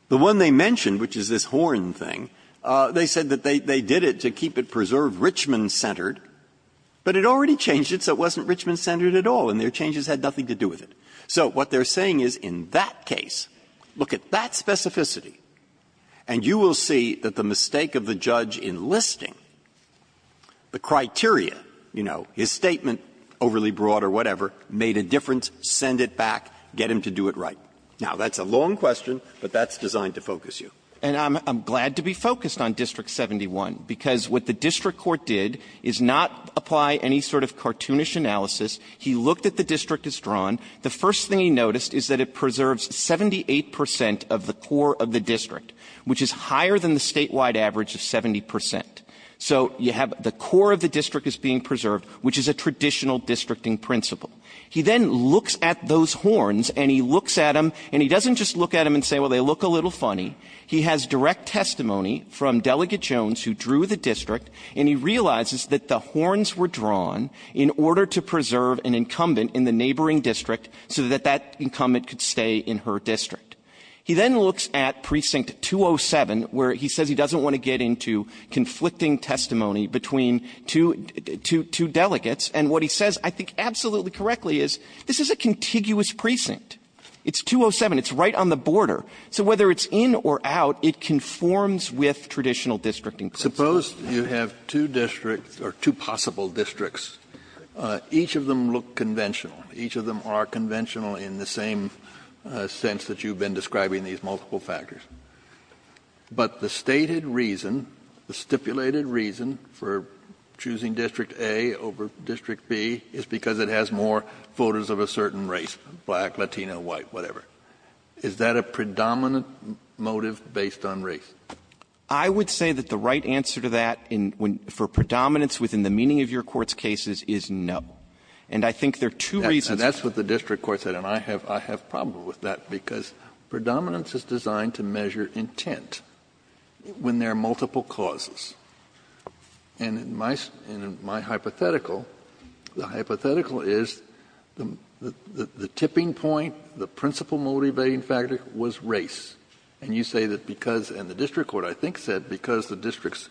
The one they mentioned, which is this horn thing, they said that they did it to keep it preserved Richmond-centered, but it already changed it, so it wasn't Richmond-centered at all. And their changes had nothing to do with it. So what they are saying is, in that case, look at that specificity, and you will see that the mistake of the judge enlisting the criteria, you know, his statement overly broad or whatever, made a difference, send it back, get him to do it right. Now, that's a long question, but that's designed to focus you. And I'm glad to be focused on District 71, because what the district court did is not apply any sort of cartoonish analysis. He looked at the district as drawn. The first thing he noticed is that it preserves 78 percent of the core of the district, which is higher than the statewide average of 70 percent. So you have the core of the district is being preserved, which is a traditional districting principle. He then looks at those horns, and he looks at them, and he doesn't just look at them and say, well, they look a little funny. He has direct testimony from Delegate Jones, who drew the district, and he realizes that the horns were drawn in order to preserve an incumbent in the neighboring district so that that incumbent could stay in her district. He then looks at Precinct 207, where he says he doesn't want to get into conflicting testimony between two delegates, and what he says, I think, absolutely correctly, is this is a contiguous precinct. It's 207. It's right on the border. So whether it's in or out, it conforms with traditional districting principles. Kennedy, I suppose you have two districts, or two possible districts. Each of them look conventional. Each of them are conventional in the same sense that you've been describing these multiple factors. But the stated reason, the stipulated reason for choosing District A over District B is because it has more voters of a certain race, black, Latino, white, whatever. Is that a predominant motive based on race? I would say that the right answer to that for predominance within the meaning of your Court's cases is no. And I think there are two reasons. Kennedy, that's what the district court said, and I have a problem with that, because predominance is designed to measure intent when there are multiple causes. And in my hypothetical, the hypothetical is the tipping point, the principal motivating factor was race. And you say that because the district court, I think, said because the districts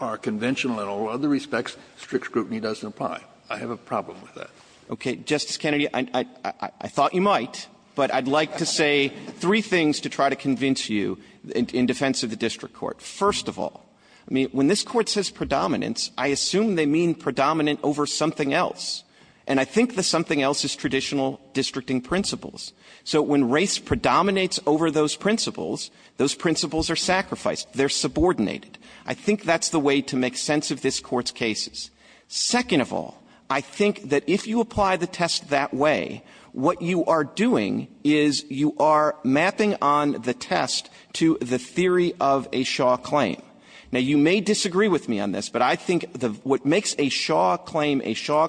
are conventional in all other respects, strict scrutiny doesn't apply. I have a problem with that. Okay. Justice Kennedy, I thought you might, but I'd like to say three things to try to convince you in defense of the district court. First of all, I mean, when this Court says predominance, I assume they mean predominant over something else. And I think the something else is traditional districting principles. So when race predominates over those principles, those principles are sacrificed. They're subordinated. I think that's the way to make sense of this Court's cases. Second of all, I think that if you apply the test that way, what you are doing is you are mapping on the test to the theory of a Shaw claim. Now, you may disagree with me on this, but I think what makes a Shaw claim a Shaw distinctly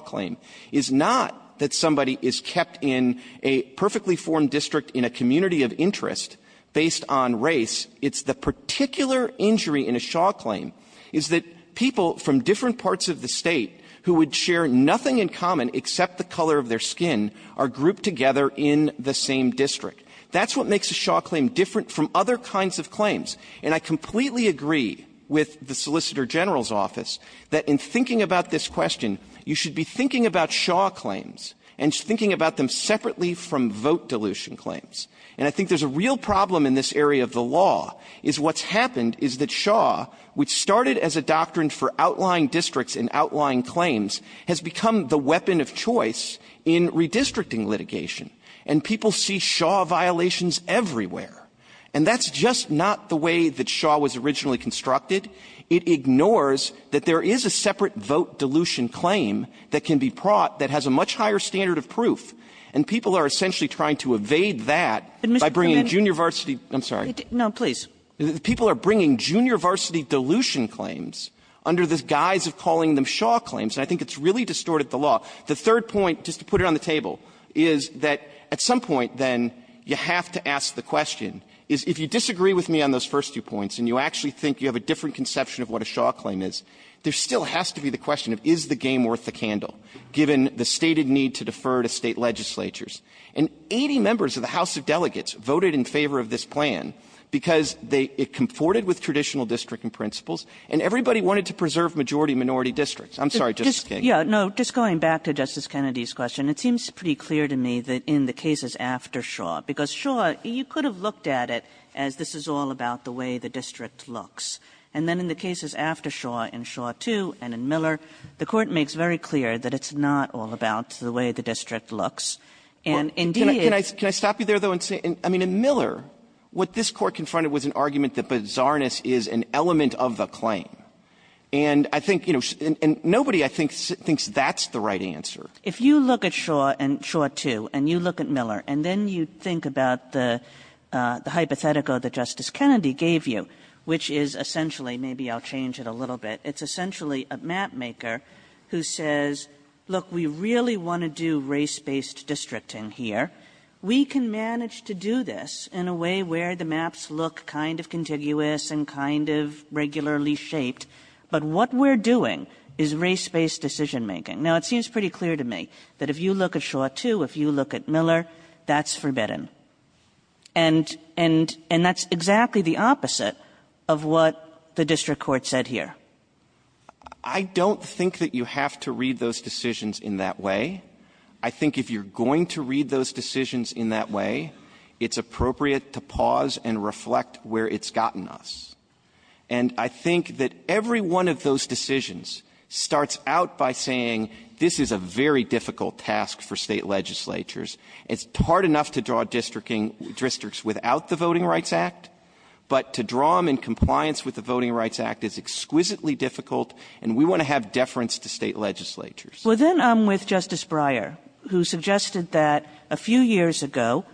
formed district in a community of interest based on race, it's the particular injury in a Shaw claim, is that people from different parts of the State who would share nothing in common except the color of their skin are grouped together in the same district. That's what makes a Shaw claim different from other kinds of claims. And I completely agree with the Solicitor General's office that in thinking about this question, you should be thinking about Shaw claims and thinking about them separately from vote dilution claims. And I think there's a real problem in this area of the law, is what's happened is that Shaw, which started as a doctrine for outlying districts and outlying claims, has become the weapon of choice in redistricting litigation, and people see Shaw violations everywhere. And that's just not the way that Shaw was originally constructed. It ignores that there is a separate vote dilution claim that can be brought that has a much higher standard of proof, and people are essentially trying to evade that by bringing junior varsity --" I'm sorry. Kagan No, please. People are bringing junior varsity dilution claims under the guise of calling them Shaw claims, and I think it's really distorted the law. The third point, just to put it on the table, is that at some point, then, you have to ask the question, is if you disagree with me on those first two points and you actually think you have a different conception of what a Shaw claim is, there still has to be the question of, is the game worth the candle, given the stated need to defer to State legislatures? And 80 members of the House of Delegates voted in favor of this plan because they --" it comforted with traditional districting principles, and everybody wanted to preserve majority-minority districts. I'm sorry, Justice Kagan. Kagan No. Just going back to Justice Kennedy's question, it seems pretty clear to me that in the cases after Shaw, because Shaw, you could have looked at it as this is all about the way the district looks. And then in the cases after Shaw, in Shaw II and in Miller, the Court makes very clear that it's not all about the way the district looks. And indeed, it's the same. Clement Can I stop you there, though, and say, I mean, in Miller, what this Court confronted was an argument that bizarreness is an element of the claim. And I think, you know, and nobody, I think, thinks that's the right answer. Kagan If you look at Shaw and Shaw II, and you look at Miller, and then you think about the hypothetical that Justice Kennedy gave you, which is essentially, maybe I'll change it a little bit, it's essentially a mapmaker who says, look, we really want to do race-based districting here. We can manage to do this in a way where the maps look kind of contiguous and kind of regularly shaped, but what we're doing is race-based decision-making. Now, it seems pretty clear to me that if you look at Shaw II, if you look at Miller, that's forbidden. And that's exactly the opposite of what the district court said here. Clement I don't think that you have to read those decisions in that way. I think if you're going to read those decisions in that way, it's appropriate to pause and reflect where it's gotten us. And I think that every one of those decisions starts out by saying, this is a very difficult task for State legislatures. It's hard enough to draw districts without the Voting Rights Act, but to draw them in compliance with the Voting Rights Act is exquisitely difficult, and we want to have deference to State legislatures. Kagan Well, then I'm with Justice Breyer, who suggested that a few years ago,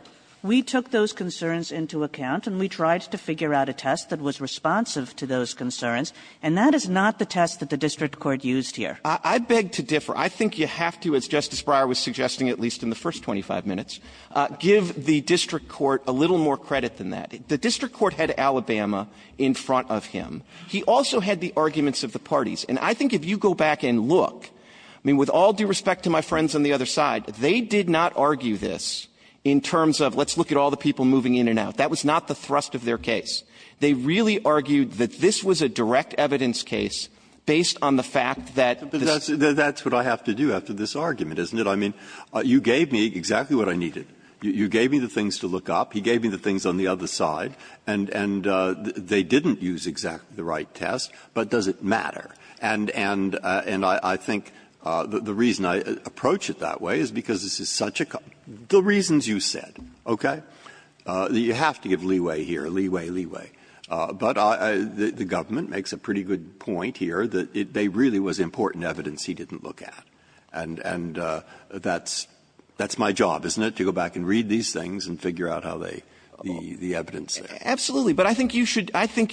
we took those concerns into account, and we tried to figure out a test that was responsive to those concerns, and that is not the test that the district court used here. I beg to differ. I think you have to, as Justice Breyer was suggesting, at least in the first 25 minutes, give the district court a little more credit than that. The district court had Alabama in front of him. He also had the arguments of the parties. And I think if you go back and look, I mean, with all due respect to my friends on the other side, they did not argue this in terms of let's look at all the people moving in and out. That was not the thrust of their case. They really argued that this was a direct evidence case based on the fact that the Breyer Well, that's what I have to do after this argument, isn't it? I mean, you gave me exactly what I needed. You gave me the things to look up. He gave me the things on the other side. And they didn't use exactly the right test, but does it matter? And I think the reason I approach it that way is because this is such a concern the reasons you said, okay? You have to give leeway here, leeway, leeway. But the government makes a pretty good point here that they really was important evidence he didn't look at. And that's my job, isn't it, to go back and read these things and figure out how they, the evidence there. Clements Absolutely. But I think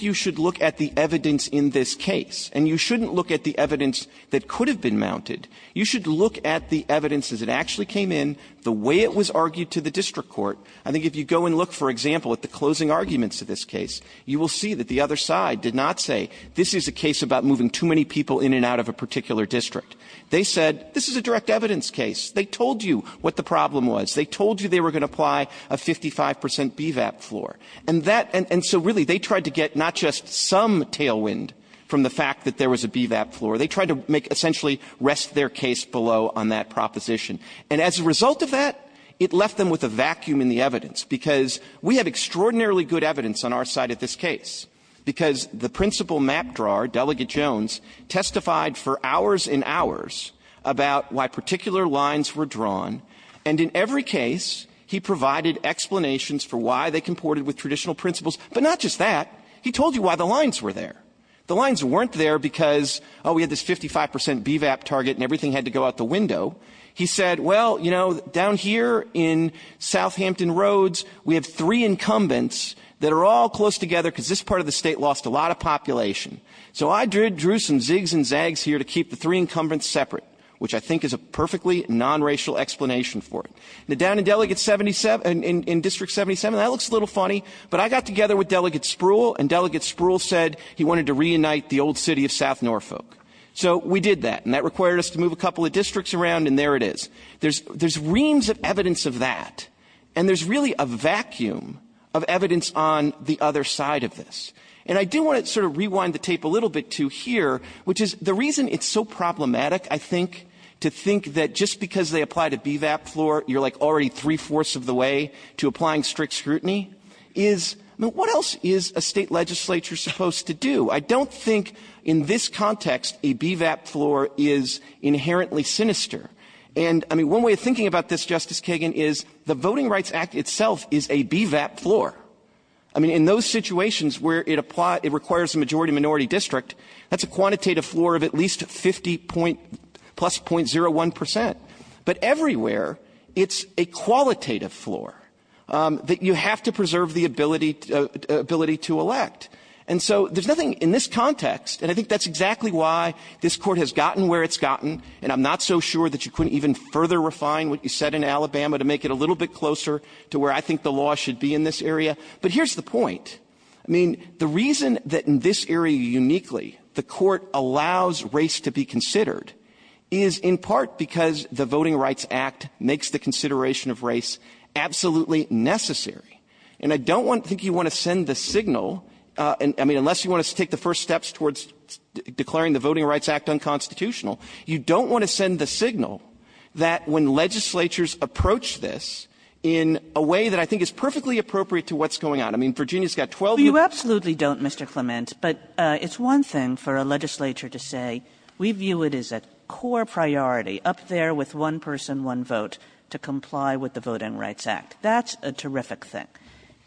you should look at the evidence in this case. And you shouldn't look at the evidence that could have been mounted. You should look at the evidence as it actually came in, the way it was argued to the district court. I think if you go and look, for example, at the closing arguments of this case, you will see that the other side did not say, this is a case about moving too many people in and out of a particular district. They said, this is a direct evidence case. They told you what the problem was. They told you they were going to apply a 55% BVAP floor. And that, and so really, they tried to get not just some tailwind from the fact that there was a BVAP floor. They tried to make, essentially, rest their case below on that proposition. And as a result of that, it left them with a vacuum in the evidence, because we have extraordinarily good evidence on our side of this case, because the principal map drawer, Delegate Jones, testified for hours and hours about why particular lines were drawn. And in every case, he provided explanations for why they comported with traditional principles. But not just that. He told you why the lines were there. The lines weren't there because, oh, we had this 55% BVAP target and everything had to go out the window. He said, well, you know, down here in South Hampton Roads, we have three incumbents that are all close together because this part of the state lost a lot of population. So I drew some zigs and zags here to keep the three incumbents separate, which I think is a perfectly non-racial explanation for it. Now, down in District 77, that looks a little funny, but I got together with Delegate Spruill, and Delegate Spruill said he wanted to reunite the old city of South Norfolk. So we did that. And that required us to move a couple of districts around, and there it is. There's reams of evidence of that. And there's really a vacuum of evidence on the other side of this. And I do want to sort of rewind the tape a little bit to here, which is the reason it's so problematic, I think, to think that just because they applied a BVAP floor, you're like already three-fourths of the way to applying strict scrutiny, is, I mean, what else is a state legislature supposed to do? I don't think in this context a BVAP floor is inherently sinister. And, I mean, one way of thinking about this, Justice Kagan, is the Voting Rights Act itself is a BVAP floor. I mean, in those situations where it requires a majority-minority district, that's a quantitative floor of at least 50 plus .01 percent. But everywhere, it's a qualitative floor that you have to preserve the ability to elect. And so there's nothing in this context, and I think that's exactly why this Court has gotten where it's gotten, and I'm not so sure that you couldn't even further refine what you said in Alabama to make it a little bit closer to where I think the law should be in this area. But here's the point. I mean, the reason that in this area uniquely the Court allows race to be considered is in part because the Voting Rights Act makes the consideration of race absolutely necessary. And I don't want to think you want to send the signal — I mean, unless you want us to take the first steps towards declaring the Voting Rights Act unconstitutional — you don't want to send the signal that when legislatures approach this in a way that I think is perfectly appropriate to what's going on. I mean, Virginia's got 12 years — Kagan. You absolutely don't, Mr. Clement, but it's one thing for a legislature to say we view it as a core priority up there with one person, one vote, to comply with the Voting Rights Act. That's a terrific thing.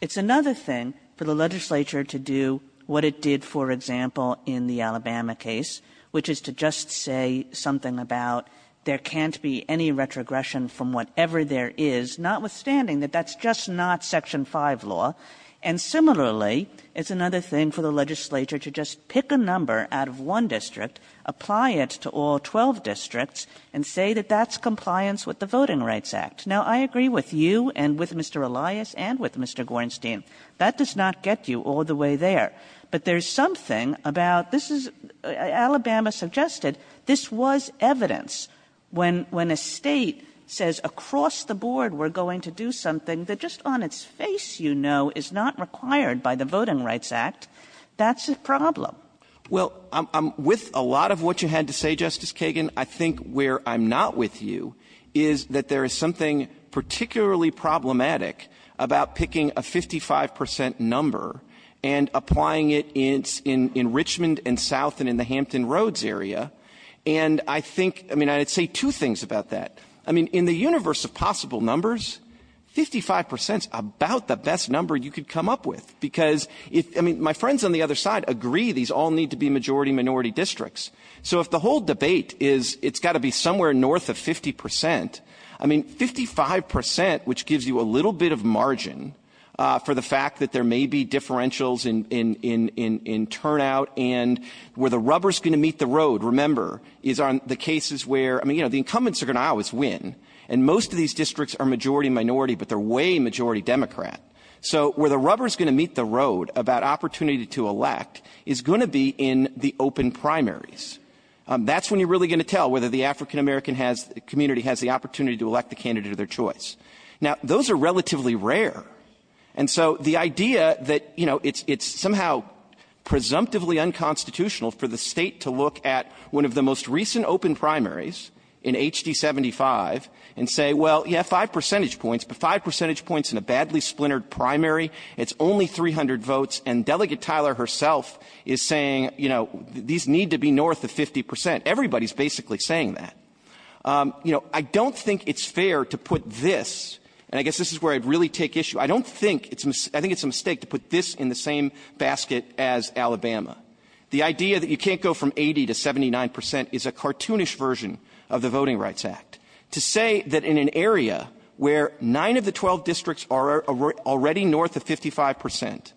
It's another thing for the legislature to do what it did, for example, in the Alabama case, which is to just say something about there can't be any retrogression from whatever there is, notwithstanding that that's just not Section 5 law. And similarly, it's another thing for the legislature to just pick a number out of one district, apply it to all 12 districts, and say that that's compliance with the Voting Rights Act. Now, I agree with you and with Mr. Elias and with Mr. Gorenstein. That does not get you all the way there. But there's something about — this is — Alabama suggested this was evidence when — when a State says across the board we're going to do something that just on its face you know is not required by the Voting Rights Act, that's a problem. Well, with a lot of what you had to say, Justice Kagan, I think where I'm not with you is that there is something particularly problematic about picking a 55 percent number and applying it in — in Richmond and south and in the Hampton Roads area. And I think — I mean, I'd say two things about that. I mean, in the universe of possible numbers, 55 percent is about the best number you could come up with, because if — I mean, my friends on the other side agree these all need to be majority-minority districts. So if the whole debate is it's got to be somewhere north of 50 percent, I mean, 55 percent, which gives you a little bit of margin for the fact that there may be differentials in — in — in — in turnout and where the rubber is going to meet the road, remember, is on the cases where — I mean, you know, the incumbents are going to always win, and most of these districts are majority-minority, but they're way majority Democrat. So where the rubber is going to meet the road about opportunity to elect is going to be in the open primaries. That's when you're really going to tell whether the African-American has — community has the opportunity to elect the candidate of their choice. Now, those are relatively rare. And so the idea that, you know, it's — it's somehow presumptively unconstitutional for the State to look at one of the most recent open primaries in HD 75 and say, well, you have five percentage points, but five percentage points in a badly splintered primary. It's only 300 votes, and Delegate Tyler herself is saying, you know, these need to be north of 50 percent. Everybody's basically saying that. You know, I don't think it's fair to put this — and I guess this is where I'd really take issue — I don't think it's — I think it's a mistake to put this in the same basket as Alabama. The idea that you can't go from 80 to 79 percent is a cartoonish version of the Voting Rights Act. To say that in an area where nine of the 12 districts are already north of 55 percent,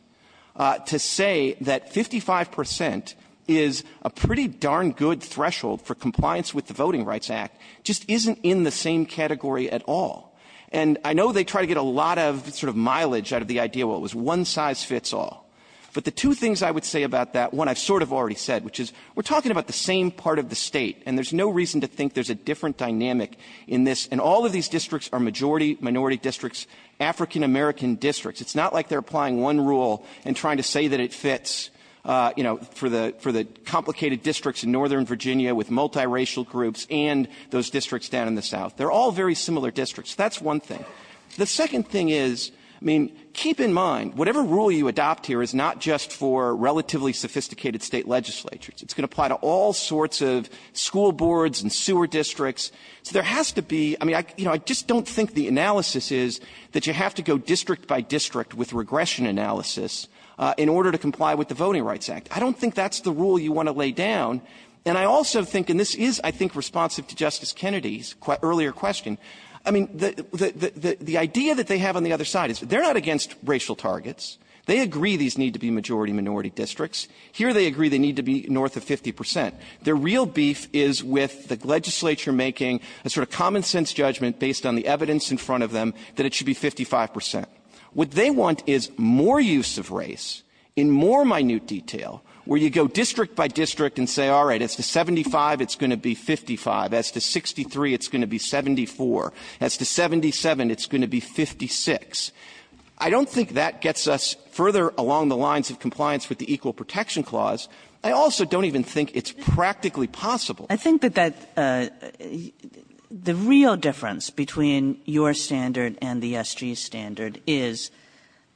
to say that 55 percent is a pretty darn good threshold for compliance with the Voting Rights Act just isn't in the same category at all. And I know they try to get a lot of sort of mileage out of the idea, well, it was one-size-fits-all. But the two things I would say about that, one I've sort of already said, which is we're talking about the same part of the State. And there's no reason to think there's a different dynamic in this. And all of these districts are majority, minority districts, African-American districts. It's not like they're applying one rule and trying to say that it fits, you know, for the — for the complicated districts in northern Virginia with multiracial groups and those districts down in the south. They're all very similar districts. That's one thing. The second thing is, I mean, keep in mind, whatever rule you adopt here is not just for relatively sophisticated State legislatures. It's going to apply to all sorts of school boards and sewer districts. So there has to be — I mean, I just don't think the analysis is that you have to go district by district with regression analysis in order to comply with the Voting Rights Act. I don't think that's the rule you want to lay down. And I also think, and this is, I think, responsive to Justice Kennedy's earlier question, I mean, the idea that they have on the other side is they're not against racial targets. They agree these need to be majority, minority districts. Here they agree they need to be north of 50 percent. Their real beef is with the legislature making a sort of common-sense judgment based on the evidence in front of them that it should be 55 percent. What they want is more use of race in more minute detail, where you go district by district and say, all right, as to 75, it's going to be 55, as to 63, it's going to be 74, as to 77, it's going to be 56. I don't think that gets us further along the lines of compliance with the Equal Protection Clause. I also don't even think it's practically possible. Kagan. I think that that the real difference between your standard and the SG's standard is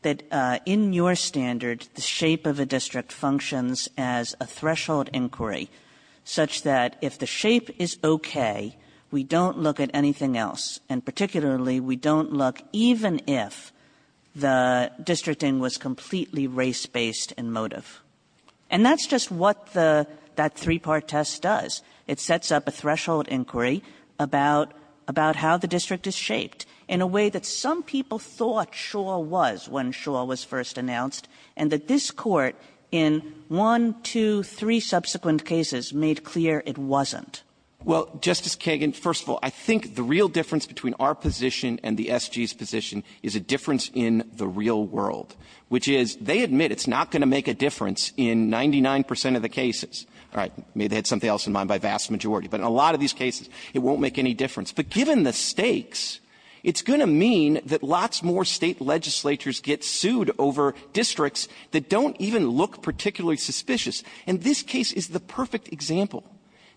that in your standard, the shape of a district functions as a threshold inquiry such that if the shape is okay, we don't look at anything else, and particularly we don't look even if the districting was completely race-based in motive. And that's just what the that three-part test does. It sets up a threshold inquiry about how the district is shaped in a way that some people thought sure was when sure was first announced, and that this Court in one, two, three subsequent cases made clear it wasn't. Well, Justice Kagan, first of all, I think the real difference between our position and the SG's position is a difference in the real world, which is they admit it's not going to make a difference in 99% of the cases. All right, maybe they had something else in mind by vast majority. But in a lot of these cases, it won't make any difference. But given the stakes, it's going to mean that lots more state legislatures get sued over districts that don't even look particularly suspicious. And this case is the perfect example.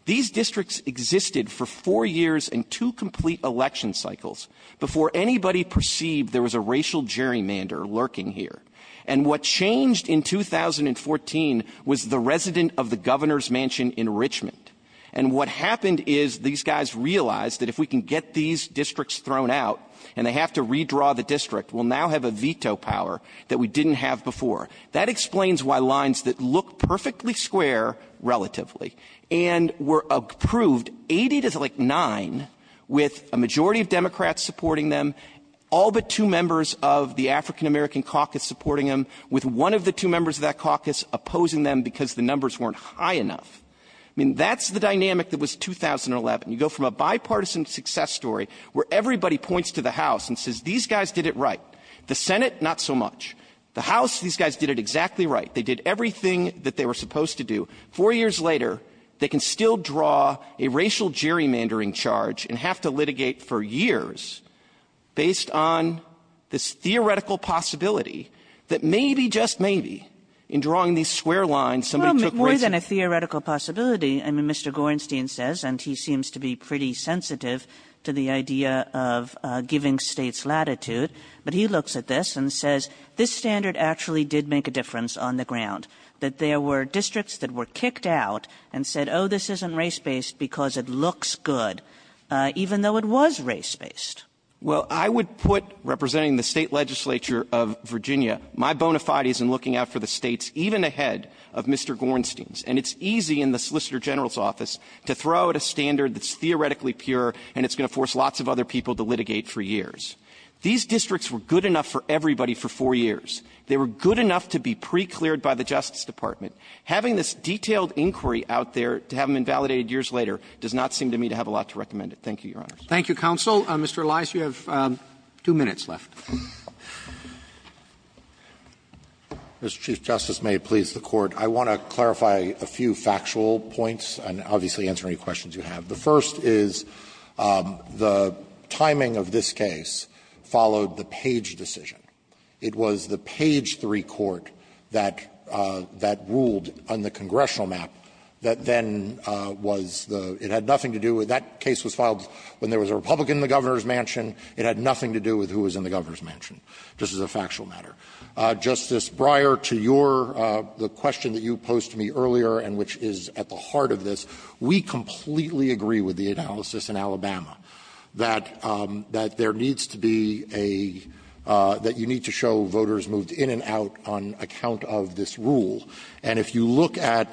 These districts existed for four years and two complete election cycles before anybody perceived there was a racial gerrymander lurking here. And what changed in 2014 was the resident of the governor's mansion in Richmond. And what happened is these guys realized that if we can get these districts thrown out and they have to redraw the district, we'll now have a veto power that we didn't have before. That explains why lines that look perfectly square relatively and were approved 80 to like nine with a majority of Democrats supporting them, all but two members of the African-American caucus supporting them, with one of the two members of that caucus opposing them because the numbers weren't high enough. I mean, that's the dynamic that was 2011. You go from a bipartisan success story where everybody points to the House and says these guys did it right. The Senate, not so much. The House, these guys did it exactly right. They did everything that they were supposed to do. Four years later, they can still draw a racial gerrymandering charge and have to litigate for years based on this theoretical possibility that maybe, just maybe, in drawing these square lines, somebody took race. Kagan Well, more than a theoretical possibility, I mean, Mr. Gorenstein says, and he seems to be pretty sensitive to the idea of giving States latitude, but he looks at this and says this standard actually did make a difference on the ground, that there were districts that were kicked out and said, oh, this isn't race-based because it looks good. Even though it was race-based. Clement Well, I would put, representing the State legislature of Virginia, my bona fides in looking out for the States, even ahead of Mr. Gorenstein's. And it's easy in the Solicitor General's office to throw out a standard that's theoretically pure and it's going to force lots of other people to litigate for years. These districts were good enough for everybody for four years. They were good enough to be pre-cleared by the Justice Department. Having this detailed inquiry out there to have them invalidated years later does not seem to me to have a lot to recommend it. Thank you, Your Honors. Roberts Thank you, counsel. Mr. Elias, you have two minutes left. Elias Mr. Chief Justice, may it please the Court, I want to clarify a few factual points and obviously answer any questions you have. The first is the timing of this case followed the Page decision. It was the Page III court that ruled on the congressional map that then was the --" That case was filed when there was a Republican in the governor's mansion. It had nothing to do with who was in the governor's mansion, just as a factual matter. Justice Breyer, to your question that you posed to me earlier and which is at the heart of this, we completely agree with the analysis in Alabama that there needs to be a --" that you need to show voters moved in and out on account of this rule. And if you look at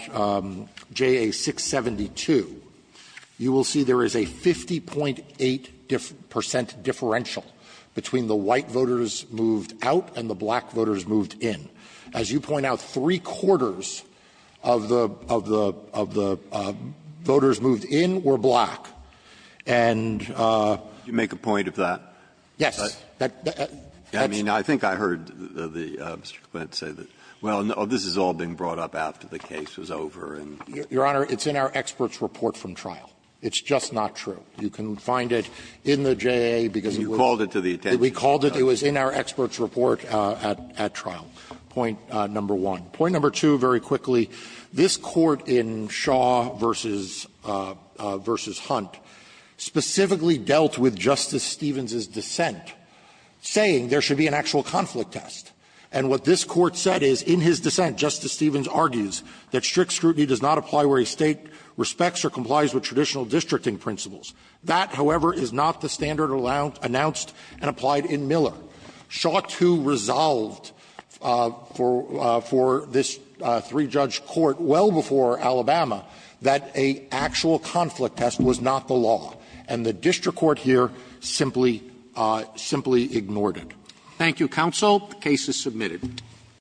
JA 672, you will see there is a 50.8 percent differential between the white voters moved out and the black voters moved in. As you point out, three-quarters of the voters moved in were black. And the other one was black. Breyer Did you make a point of that? Elias Yes. Breyer I mean, I think I heard Mr. Clement say that. Well, no, this is all being brought up after the case was over and --" Elias Your Honor, it's in our experts' report from trial. It's just not true. You can find it in the JA because it was --" You called it to the attention of the judge. Elias We called it. It was in our experts' report at trial, point number one. Point number two, very quickly, this Court in Shaw v. Hunt specifically dealt with Justice Stevens's dissent, saying there should be an actual conflict test. And what this Court said is, in his dissent, Justice Stevens argues that strict scrutiny does not apply where a State respects or complies with traditional districting principles. That, however, is not the standard announced and applied in Miller. Shaw too resolved for this three-judge court well before Alabama that an actual conflict test was not the law. And the district court here simply ignored it. Roberts The case is submitted.